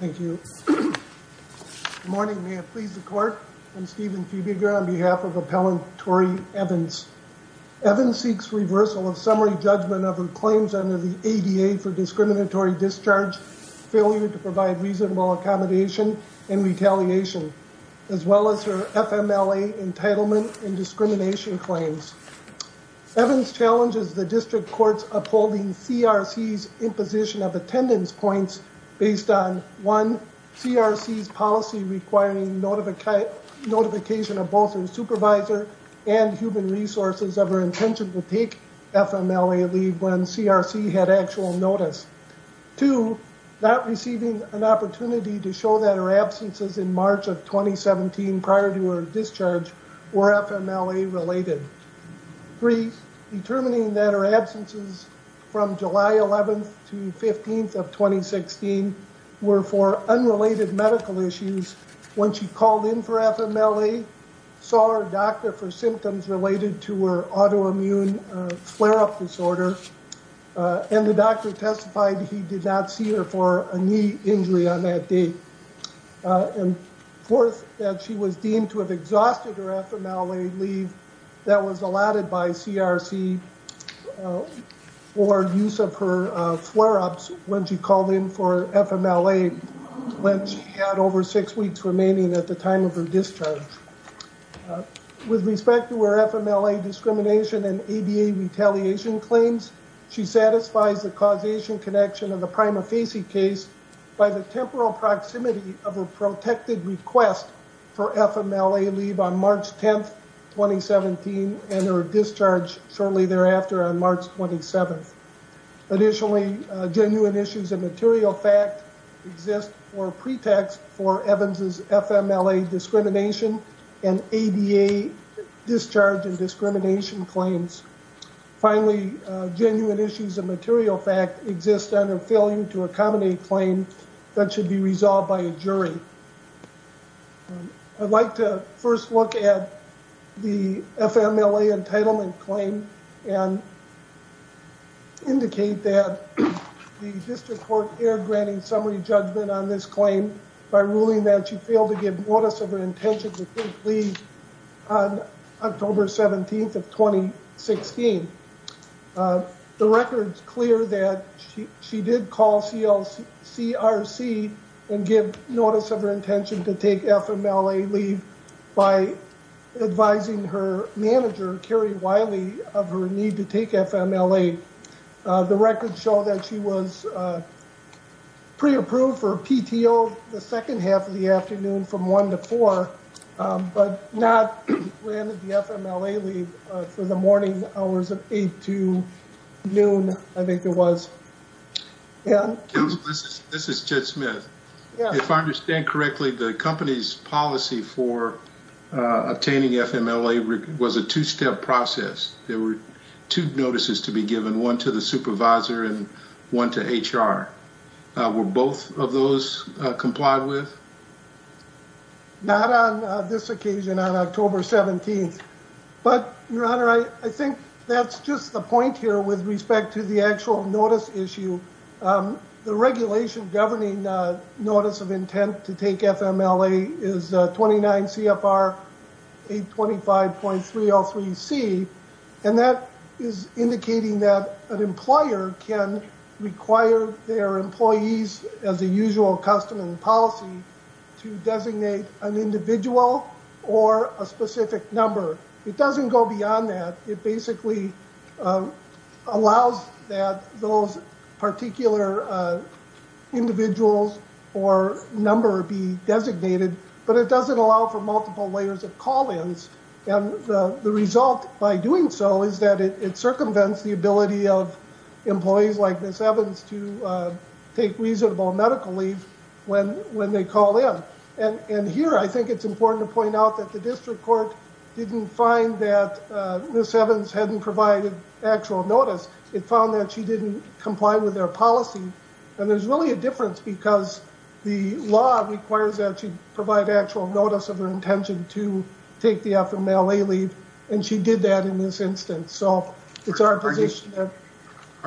Thank you. Morning, may it please the court. I'm Stephen Fiebiger on behalf of Appellant Tori Evans. Evans seeks reversal of summary judgment of her claims under the ADA for discriminatory discharge, failure to provide reasonable accommodation and retaliation, as well as her FMLA entitlement and discrimination claims. Evans challenges the district courts upholding CRC's imposition of attendance points based on, one, CRC's policy requiring notification of both a supervisor and human resources of her intention to take FMLA leave when CRC had actual notice. Two, not receiving an opportunity to show that her absences in March of 2017 prior to her discharge were FMLA related. Three, determining that her absences from July 11th to 15th of 2016 were for unrelated medical issues when she called in for FMLA, saw her doctor for symptoms related to her autoimmune flare-up disorder, and the doctor testified he did not see her for a knee injury on that date. And fourth, that she was deemed to have exhausted her FMLA leave that was allotted by CRC for use of her flare-ups when she called in for FMLA when she had over six weeks remaining at the time of her discharge. With respect to her FMLA discrimination and ADA retaliation claims, she satisfies the causation connection of the prima facie case by the temporal proximity of a protected request for FMLA leave on March 10th, 2017, and her discharge shortly thereafter on March 27th. Additionally, genuine issues of material fact exist for pretext for Evans' FMLA discrimination and ADA discharge and discrimination claims. Finally, genuine issues of material fact exist under failure to accommodate claim that should be resolved by a jury. I'd like to first look at the FMLA entitlement claim and indicate that the District Court erred granting summary judgment on this claim by ruling that she failed to give notice of her intention to take leave on October 17th of 2016. The record's clear that she did call CRC and give notice of her intention to take FMLA leave by advising her manager, Carrie Wiley, of her need to take FMLA. The records show that she was pre-approved for PTO the second half of the afternoon from 1 to 4, but not granted the FMLA leave for the morning hours of 8 to noon, I think it was. This is Jed Smith. If I understand correctly, the company's policy for obtaining FMLA was a two-step process. There were two notices to be given, one to the supervisor and one to HR. Were both of those complied with? Not on this occasion, on October 17th. But, Your Honor, I think that's just the point here with respect to the actual notice issue. The regulation governing notice of intent to take FMLA is 29 CFR 825.303C, and that is indicating that an employer can require their employees, as a usual custom and policy, to designate an individual or a specific number. It doesn't go beyond that. It basically allows that those particular individuals or number be designated, but it doesn't allow for multiple layers of call-ins, and the result by doing so is that it circumvents the ability of employees like Ms. Evans to take reasonable medical leave when they call in. And here, I think it's important to point out that the district court didn't find that Ms. Evans hadn't provided actual notice. It found that she didn't comply with their policy, and there's really a difference because the law requires that she provide actual notice of her intention to take the FMLA leave, and she did that in this instance. Are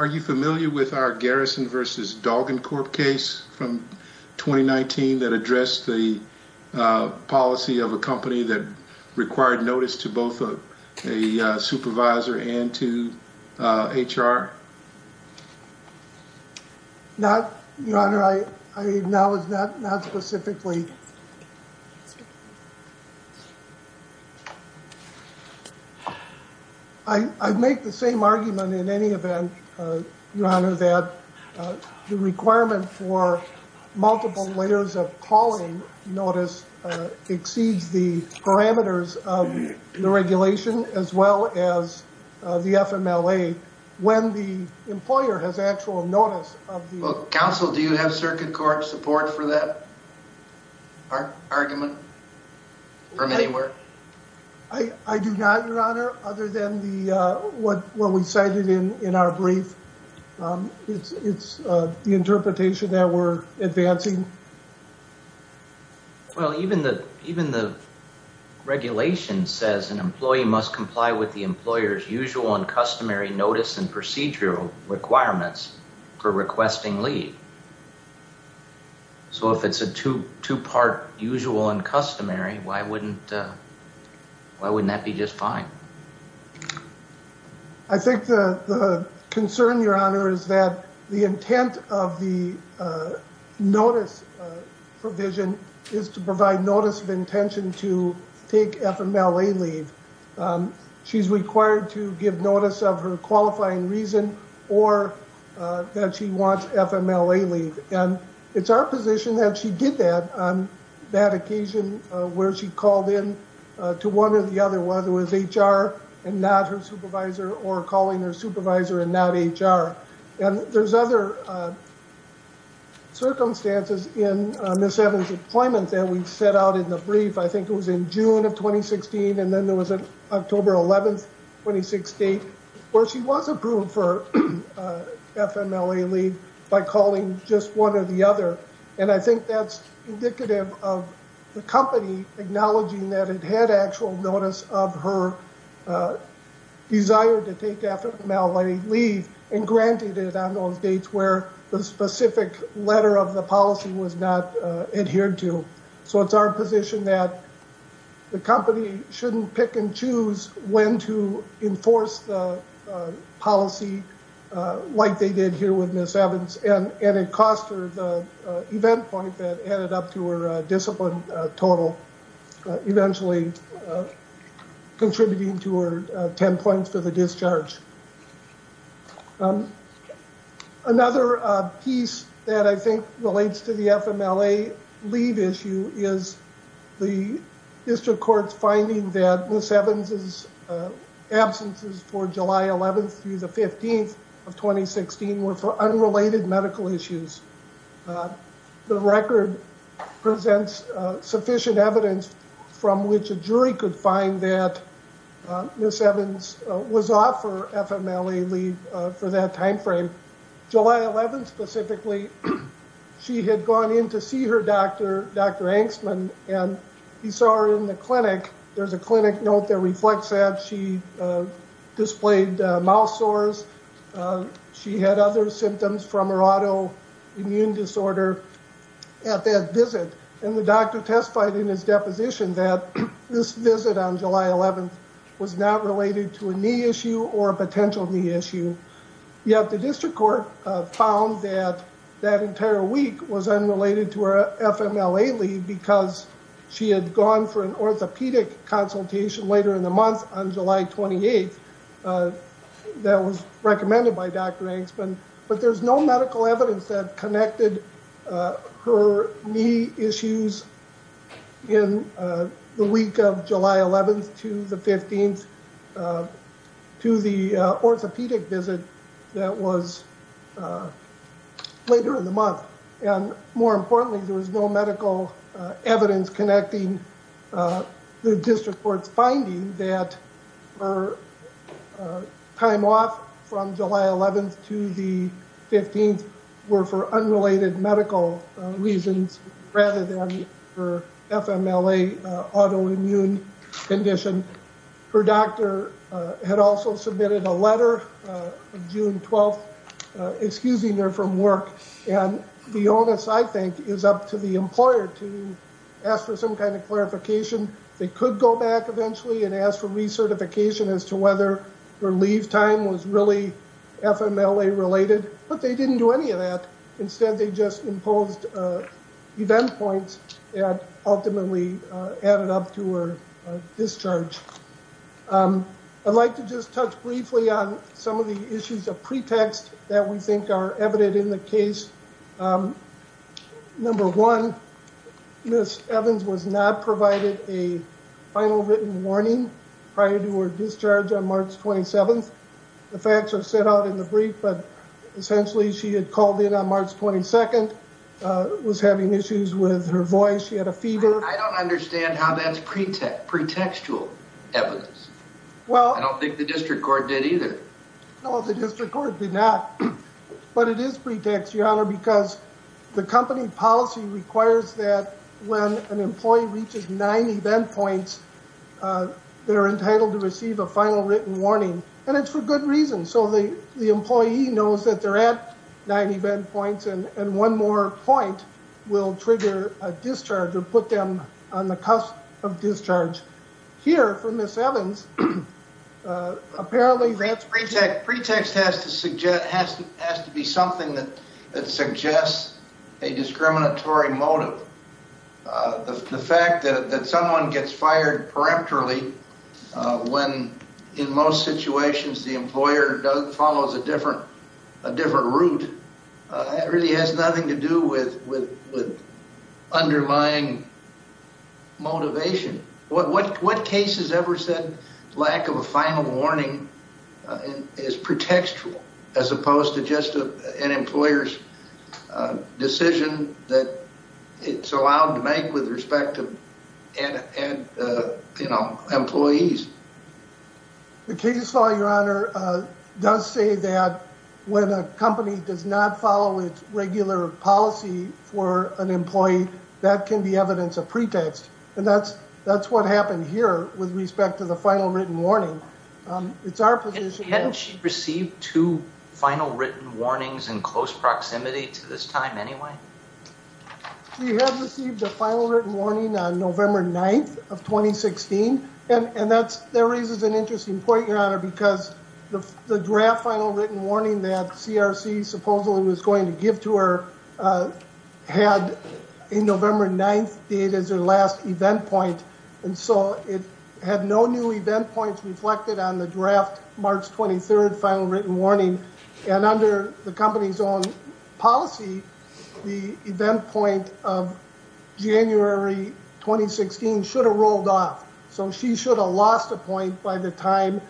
you familiar with our Garrison v. Dalgan Corp case from 2019 that addressed the policy of a company that required notice to both a supervisor and to HR? Your Honor, I acknowledge that not specifically. I make the same argument in any event, Your Honor, that the requirement for multiple layers of call-in notice exceeds the parameters of the regulation as well as the FMLA when the employer has actual notice. Counsel, do you have circuit court support for that argument from anywhere? I do not, Your Honor, other than what we cited in our brief. It's the interpretation that we're advancing. Well, even the regulation says an employee must comply with the employer's usual and customary notice and procedural requirements for requesting leave. So if it's a two-part usual and customary, why wouldn't that be just fine? I think the concern, Your Honor, is that the intent of the notice provision is to provide notice of intention to take FMLA leave. She's required to give notice of her qualifying reason or that she wants FMLA leave. It's our position that she did that on that occasion where she called in to one or the other, whether it was HR and not her supervisor or calling her supervisor and not HR. There's other circumstances in Ms. Evans' employment that we've set out in the brief. I think it was in June of 2016 and then there was an October 11, 2016, where she was approved for FMLA leave by calling just one or the other. I think that's indicative of the company acknowledging that it had actual notice of her desire to take FMLA leave and granted it on those dates where the specific letter of the policy was not adhered to. So it's our position that the company shouldn't pick and choose when to enforce the policy like they did here with Ms. Evans, and it cost her the event point that added up to her discipline total, eventually contributing to her 10 points for the discharge. Another piece that I think relates to the FMLA leave issue is the district court's finding that Ms. Evans' absences for July 11th through the 15th of 2016 were for unrelated medical issues. The record presents sufficient evidence from which a jury could find that Ms. Evans was off for FMLA leave for that time frame. July 11th specifically, she had gone in to see her doctor, Dr. Angstman, and he saw her in the clinic. There's a clinic note that reflects that. She displayed mouth sores. She had other symptoms from her autoimmune disorder at that visit, and the doctor testified in his deposition that this visit on July 11th was not related to a knee issue or a potential knee issue. Yet the district court found that that entire week was unrelated to her FMLA leave because she had gone for an orthopedic consultation later in the month on July 28th that was recommended by Dr. Angstman. But there's no medical evidence that connected her knee issues in the week of July 11th to the 15th to the orthopedic visit that was later in the month. And more importantly, there was no medical evidence connecting the district court's finding that her time off from July 11th to the 15th were for unrelated medical reasons rather than her FMLA autoimmune condition. Her doctor had also submitted a letter on June 12th excusing her from work, and the onus, I think, is up to the employer to ask for some kind of clarification. They could go back eventually and ask for recertification as to whether her leave time was really FMLA related, but they didn't do any of that. Instead, they just imposed event points that ultimately added up to her discharge. I'd like to just touch briefly on some of the issues of pretext that we think are evident in the case. Number one, Ms. Evans was not provided a final written warning prior to her discharge on March 27th. The facts are set out in the brief, but essentially she had called in on March 22nd, was having issues with her voice. She had a fever. I don't understand how that's pretextual evidence. I don't think the district court did either. No, the district court did not, but it is pretext, Your Honor, because the company policy requires that when an employee reaches nine event points, they're entitled to receive a final written warning, and it's for good reason. So the employee knows that they're at nine event points, and one more point will trigger a discharge or put them on the cusp of discharge. Here, for Ms. Evans, apparently that's pretext. Pretext has to be something that suggests a discriminatory motive. The fact that someone gets fired peremptorily when in most situations the employer follows a different route really has nothing to do with undermining motivation. What case has ever said lack of a final warning is pretextual as opposed to just an employer's decision that it's allowed to make with respect to employees? The case law, Your Honor, does say that when a company does not follow its regular policy for an employee, that can be evidence of pretext, and that's what happened here with respect to the final written warning. Hadn't she received two final written warnings in close proximity to this time anyway? She had received a final written warning on November 9th of 2016, and that raises an interesting point, Your Honor, because the draft final written warning that CRC supposedly was going to give to her had a November 9th date as their last event point. It had no new event points reflected on the draft March 23rd final written warning, and under the company's own policy, the event point of January 2016 should have rolled off. She should have lost a point by the time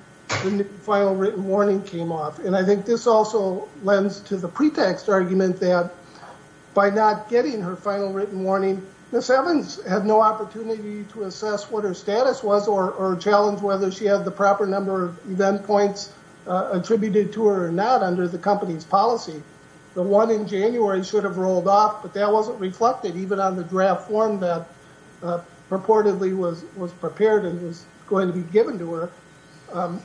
the final written warning came off. I think this also lends to the pretext argument that by not getting her final written warning, Ms. Evans had no opportunity to assess what her status was or challenge whether she had the proper number of event points attributed to her or not under the company's policy. The one in January should have rolled off, but that wasn't reflected even on the draft form that purportedly was prepared and was going to be given to her.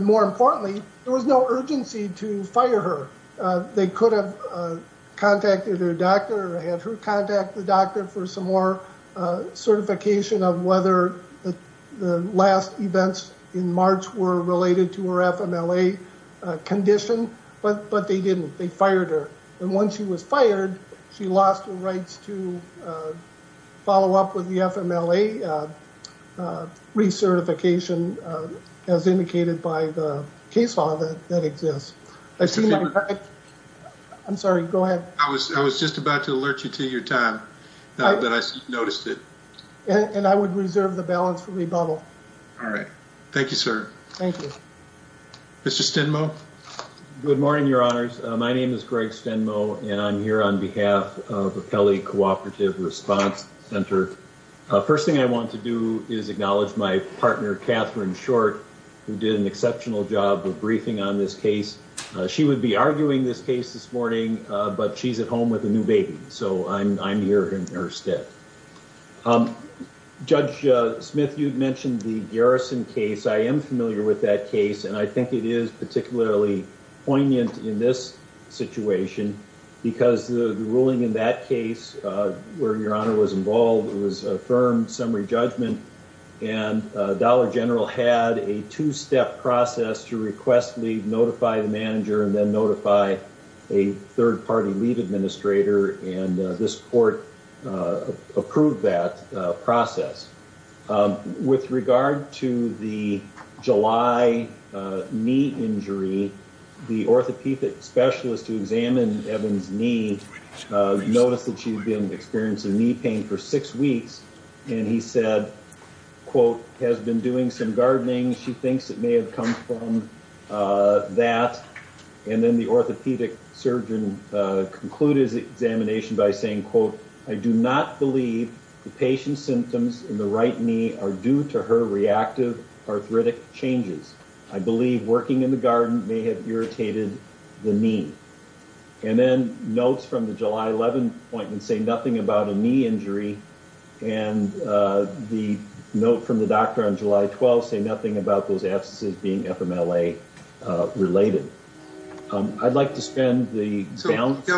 More importantly, there was no urgency to fire her. They could have contacted her doctor or had her contact the doctor for some more certification of whether the last events in March were related to her FMLA condition, but they didn't. They fired her, and once she was fired, she lost her rights to follow up with the FMLA recertification as indicated by the case law that exists. I'm sorry, go ahead. I was just about to alert you to your time, but I noticed it. And I would reserve the balance for rebuttal. All right. Thank you, sir. Thank you. Mr. Stenmo. My name is Greg Stenmo, and I'm here on behalf of the Kelly Cooperative Response Center. First thing I want to do is acknowledge my partner, Catherine Short, who did an exceptional job of briefing on this case. She would be arguing this case this morning, but she's at home with a new baby, so I'm here in her stead. Judge Smith, you mentioned the Garrison case. I am familiar with that case, and I think it is particularly poignant in this situation because the ruling in that case, where Your Honor was involved, was a firm summary judgment. And Dollar General had a two-step process to request leave, notify the manager, and then notify a third-party leave administrator, and this court approved that process. With regard to the July knee injury, the orthopedic specialist who examined Evan's knee noticed that she'd been experiencing knee pain for six weeks. And he said, quote, has been doing some gardening. She thinks it may have come from that. And then the orthopedic surgeon concluded his examination by saying, quote, I do not believe the patient's symptoms in the right knee are due to her reactive arthritic changes. I believe working in the garden may have irritated the knee. And then notes from the July 11 appointment say nothing about a knee injury, and the note from the doctor on July 12 say nothing about those absences being FMLA-related. I'd like to spend the balance.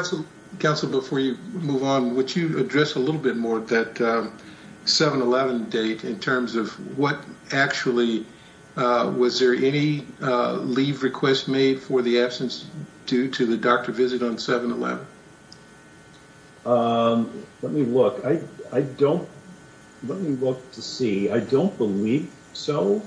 Counsel, before you move on, would you address a little bit more that 7-11 date in terms of what actually, was there any leave request made for the absence due to the doctor visit on 7-11? Let me look. I don't, let me look to see. I don't believe so.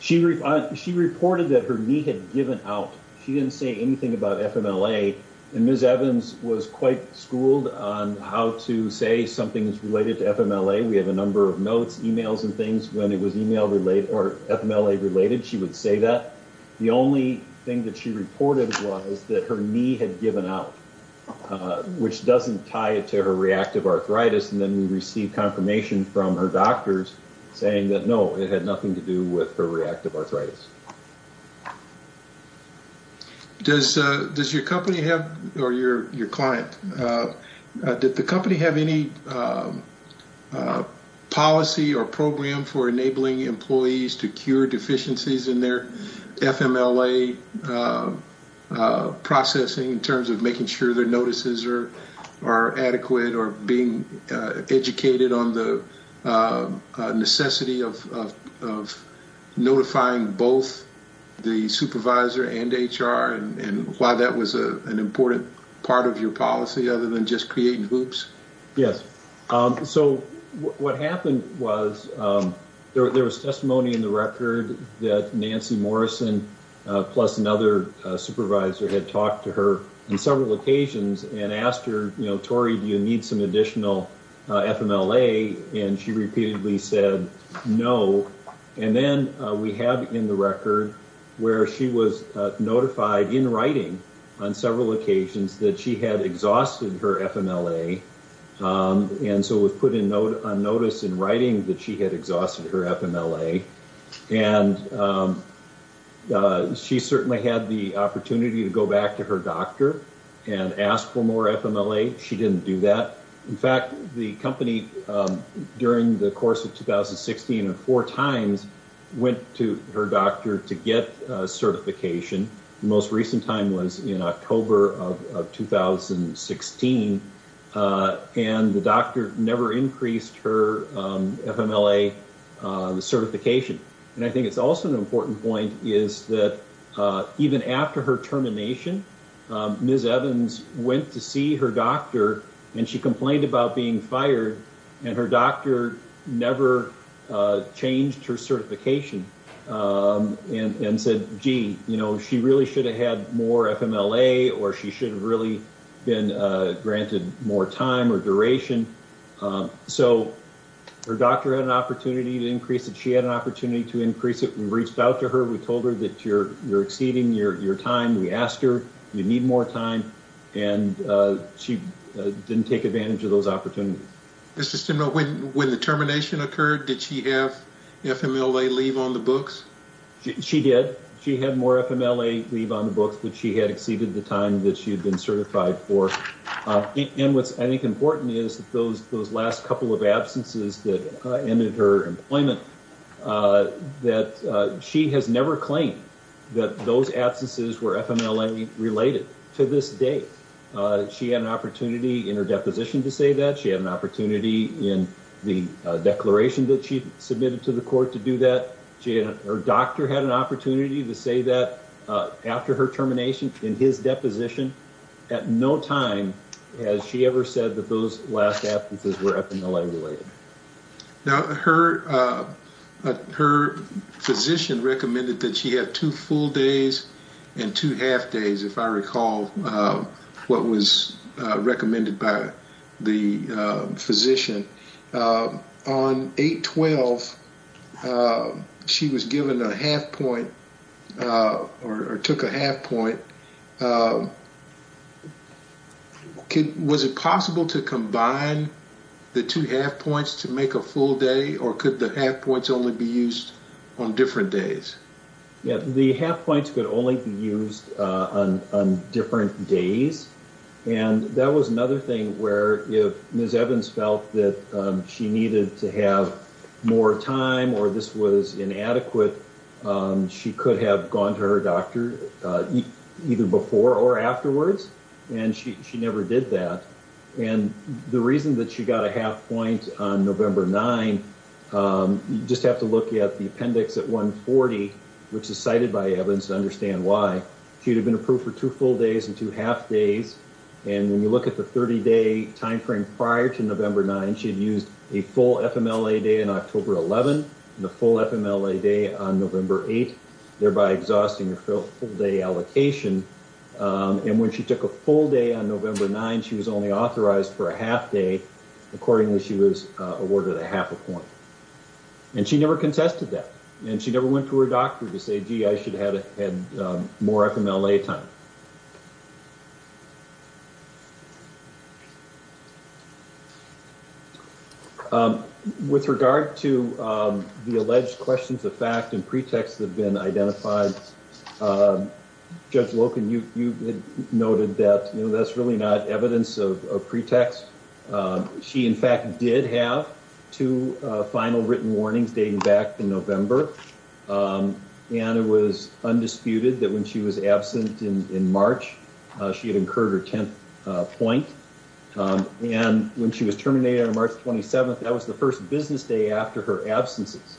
She reported that her knee had given out. She didn't say anything about FMLA. And Ms. Evans was quite schooled on how to say something's related to FMLA. We have a number of notes, emails and things when it was email-related or FMLA-related, she would say that. The only thing that she reported was that her knee had given out, which doesn't tie it to her reactive arthritis. And then we received confirmation from her doctors saying that, no, it had nothing to do with her reactive arthritis. Does your company have, or your client, did the company have any policy or program for enabling employees to cure deficiencies in their FMLA processing in terms of making sure their notices are adequate, or being educated on the necessity of notifying both the supervisor and HR and why that was an important part of your policy other than just creating hoops? Yes. So what happened was there was testimony in the record that Nancy Morrison, plus another supervisor, had talked to her on several occasions and asked her, you know, And so it was put on notice in writing that she had exhausted her FMLA. And she certainly had the opportunity to go back to her doctor and ask for more FMLA. She didn't do that. In fact, the company, during the course of 2016, four times went to her doctor to get certification. The most recent time was in October of 2016, and the doctor never increased her FMLA certification. And I think it's also an important point is that even after her termination, Ms. Evans went to see her doctor, and she complained about being fired, and her doctor never changed her certification. And said, gee, you know, she really should have had more FMLA, or she should have really been granted more time or duration. So her doctor had an opportunity to increase it. She had an opportunity to increase it. We reached out to her. We told her that you're exceeding your time. We asked her, you need more time, and she didn't take advantage of those opportunities. When the termination occurred, did she have FMLA leave on the books? She did. She had more FMLA leave on the books, but she had exceeded the time that she had been certified for. And what's, I think, important is that those last couple of absences that ended her employment, that she has never claimed that those absences were FMLA related to this date. She had an opportunity in her deposition to say that. She had an opportunity in the declaration that she submitted to the court to do that. Her doctor had an opportunity to say that after her termination in his deposition. At no time has she ever said that those last absences were FMLA related. Now, her physician recommended that she have two full days and two half days, if I recall what was recommended by the physician. On 8-12, she was given a half point, or took a half point. Was it possible to combine the two half points to make a full day, or could the half points only be used on different days? The half points could only be used on different days, and that was another thing where if Ms. Evans felt that she needed to have more time or this was inadequate, she could have gone to her doctor either before or afterwards, and she never did that. The reason that she got a half point on November 9, you just have to look at the appendix at 140, which is cited by Evans to understand why. She would have been approved for two full days and two half days, and when you look at the 30-day timeframe prior to November 9, she had used a full FMLA day on October 11, and a full FMLA day on November 8, thereby exhausting her full day allocation. And when she took a full day on November 9, she was only authorized for a half day. Accordingly, she was awarded a half a point. And she never contested that, and she never went to her doctor to say, gee, I should have had more FMLA time. With regard to the alleged questions of fact and pretext that have been identified, Judge Loken, you noted that that's really not evidence of pretext. She, in fact, did have two final written warnings dating back to November, and it was undisputed that when she was absent in March, she had incurred her 10th point. And when she was terminated on March 27, that was the first business day after her absences.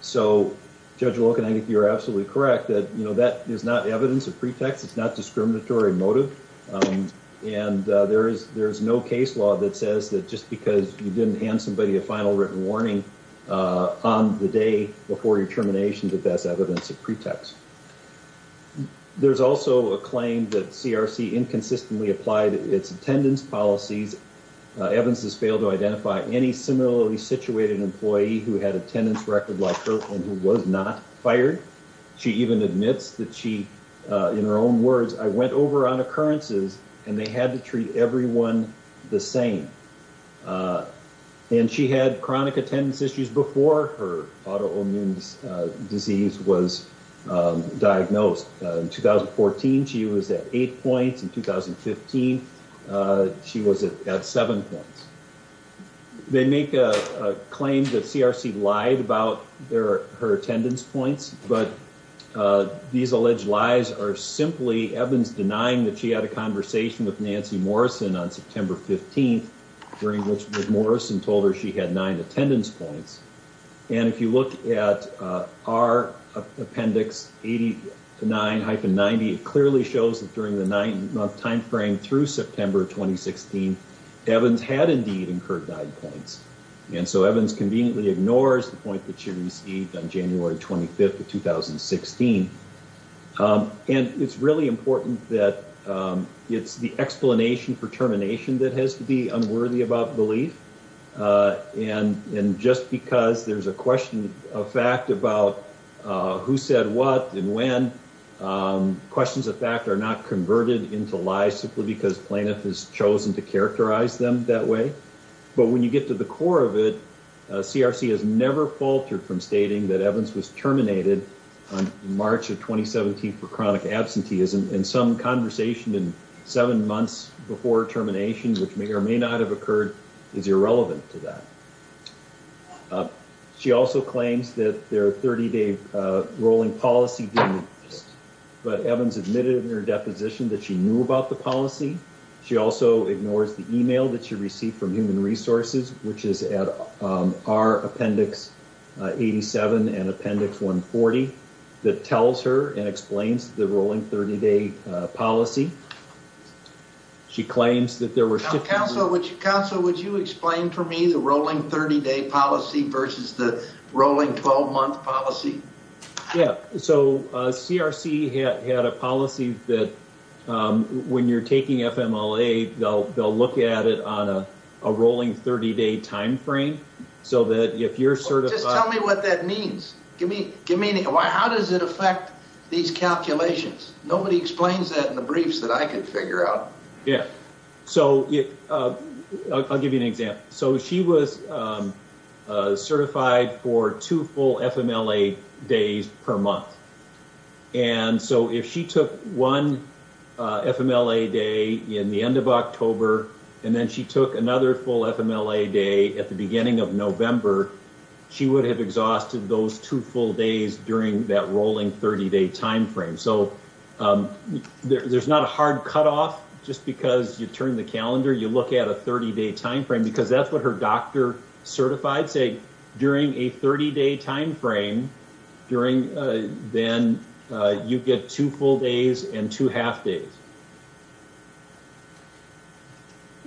So, Judge Loken, I think you're absolutely correct that, you know, that is not evidence of pretext. It's not discriminatory motive. And there is no case law that says that just because you didn't hand somebody a final written warning on the day before your termination that that's evidence of pretext. There's also a claim that CRC inconsistently applied its attendance policies. Evans has failed to identify any similarly situated employee who had attendance record like her and who was not fired. She even admits that she, in her own words, I went over on occurrences and they had to treat everyone the same. And she had chronic attendance issues before her autoimmune disease was diagnosed. In 2014, she was at eight points. In 2015, she was at seven points. They make a claim that CRC lied about her attendance points, but these alleged lies are simply Evans denying that she had a conversation with Nancy Morrison on September 15. During which Morrison told her she had nine attendance points. And if you look at our appendix 89-90, it clearly shows that during the nine month timeframe through September 2016, Evans had indeed incurred nine points. And so Evans conveniently ignores the point that she received on January 25th of 2016. And it's really important that it's the explanation for termination that has to be unworthy about belief. And just because there's a question of fact about who said what and when, questions of fact are not converted into lies simply because plaintiff has chosen to characterize them that way. But when you get to the core of it, CRC has never faltered from stating that Evans was terminated on March of 2017 for chronic absenteeism. And some conversation in seven months before termination, which may or may not have occurred, is irrelevant to that. She also claims that their 30-day rolling policy didn't exist, but Evans admitted in her deposition that she knew about the policy. She also ignores the email that she received from Human Resources, which is at our appendix 87 and appendix 140, that tells her and explains the rolling 30-day policy. She claims that there were... Counsel, would you explain for me the rolling 30-day policy versus the rolling 12-month policy? Yeah. So, CRC had a policy that when you're taking FMLA, they'll look at it on a rolling 30-day time frame, so that if you're certified... Just tell me what that means. Give me... How does it affect these calculations? Nobody explains that in the briefs that I can figure out. Yeah. So, I'll give you an example. So, she was certified for two full FMLA days per month. And so, if she took one FMLA day in the end of October, and then she took another full FMLA day at the beginning of November, she would have exhausted those two full days during that rolling 30-day time frame. So, there's not a hard cutoff, just because you turn the calendar, you look at a 30-day time frame, because that's what her doctor certified. Say, during a 30-day time frame, then you get two full days and two half days.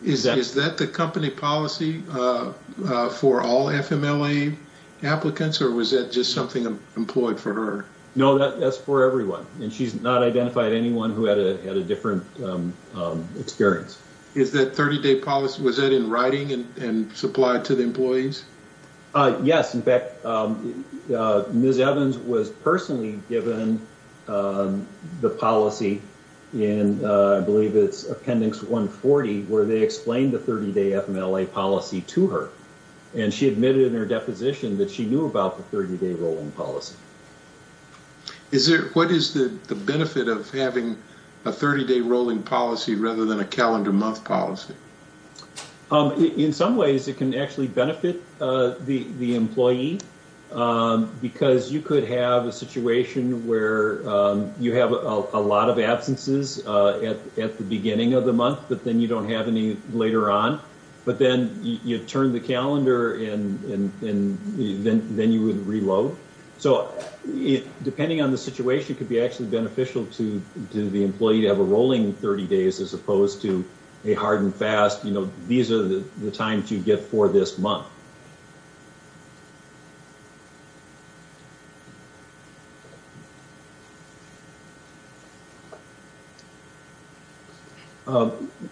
Is that the company policy for all FMLA applicants, or was that just something employed for her? No, that's for everyone. And she's not identified anyone who had a different experience. Is that 30-day policy... Was that in writing and supplied to the employees? Yes. In fact, Ms. Evans was personally given the policy in, I believe it's Appendix 140, where they explained the 30-day FMLA policy to her. And she admitted in her deposition that she knew about the 30-day rolling policy. What is the benefit of having a 30-day rolling policy rather than a calendar month policy? In some ways, it can actually benefit the employee, because you could have a situation where you have a lot of absences at the beginning of the month, but then you don't have any later on. But then you turn the calendar, and then you would reload. So, depending on the situation, it could be actually beneficial to the employee to have a rolling 30 days as opposed to a hard and fast, you know, these are the times you get for this month.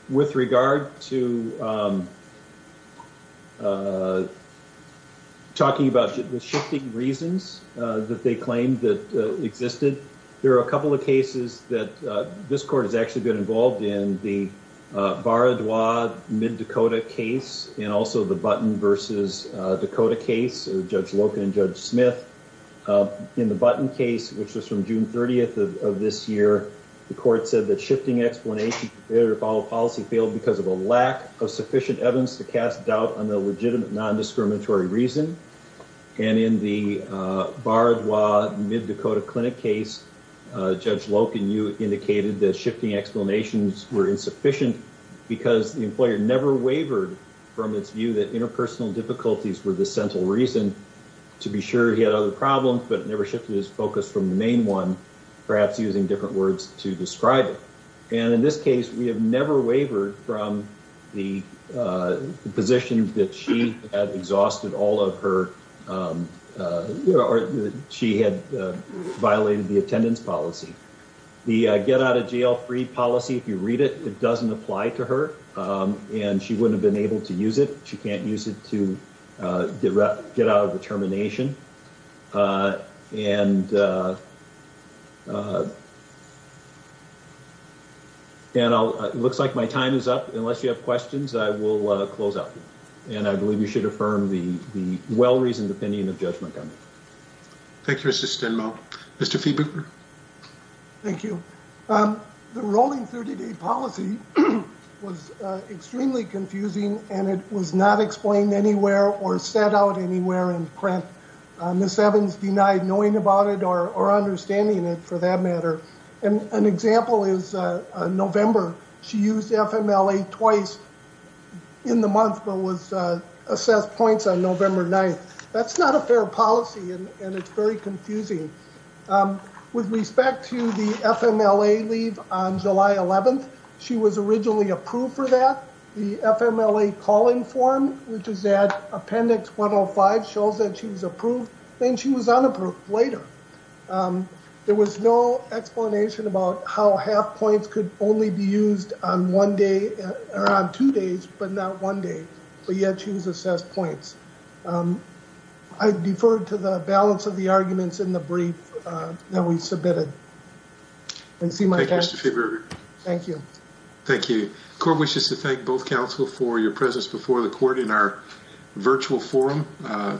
With regard to talking about the shifting reasons that they claimed that existed, there are a couple of cases that this court has actually been involved in. In the Baradwa Mid-Dakota case, and also the Button v. Dakota case, Judge Loken and Judge Smith. In the Button case, which was from June 30th of this year, the court said that shifting explanations for their follow-up policy failed because of a lack of sufficient evidence to cast doubt on the legitimate non-discriminatory reason. And in the Baradwa Mid-Dakota Clinic case, Judge Loken, you indicated that shifting explanations were insufficient because the employer never wavered from its view that interpersonal difficulties were the central reason to be sure he had other problems, but never shifted his focus from the main one, perhaps using different words to describe it. And in this case, we have never wavered from the position that she had exhausted all of her, or she had violated the attendance policy. The get-out-of-jail-free policy, if you read it, it doesn't apply to her, and she wouldn't have been able to use it. She can't use it to get out of the termination. And it looks like my time is up. Unless you have questions, I will close out. And I believe you should affirm the well-reasoned opinion of Judge Montgomery. Thank you, Mr. Stenmaul. Mr. Fiebinger? Thank you. The rolling 30-day policy was extremely confusing, and it was not explained anywhere or set out anywhere in print. Ms. Evans denied knowing about it or understanding it, for that matter. An example is November. She used FMLA twice in the month but was assessed points on November 9th. That's not a fair policy, and it's very confusing. With respect to the FMLA leave on July 11th, she was originally approved for that. The FMLA calling form, which is at Appendix 105, shows that she was approved, and she was unapproved later. There was no explanation about how half points could only be used on one day, or on two days, but not one day, but yet she was assessed points. I defer to the balance of the arguments in the brief that we submitted. Thank you, Mr. Fiebinger. Thank you. Thank you. The court wishes to thank both counsel for your presence before the court in our virtual forum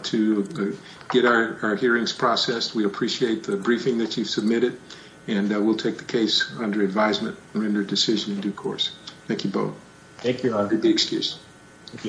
to get our hearings processed. We appreciate the briefing that you've submitted, and we'll take the case under advisement and render a decision in due course. Thank you both. Thank you, Your Honor. Excuse me.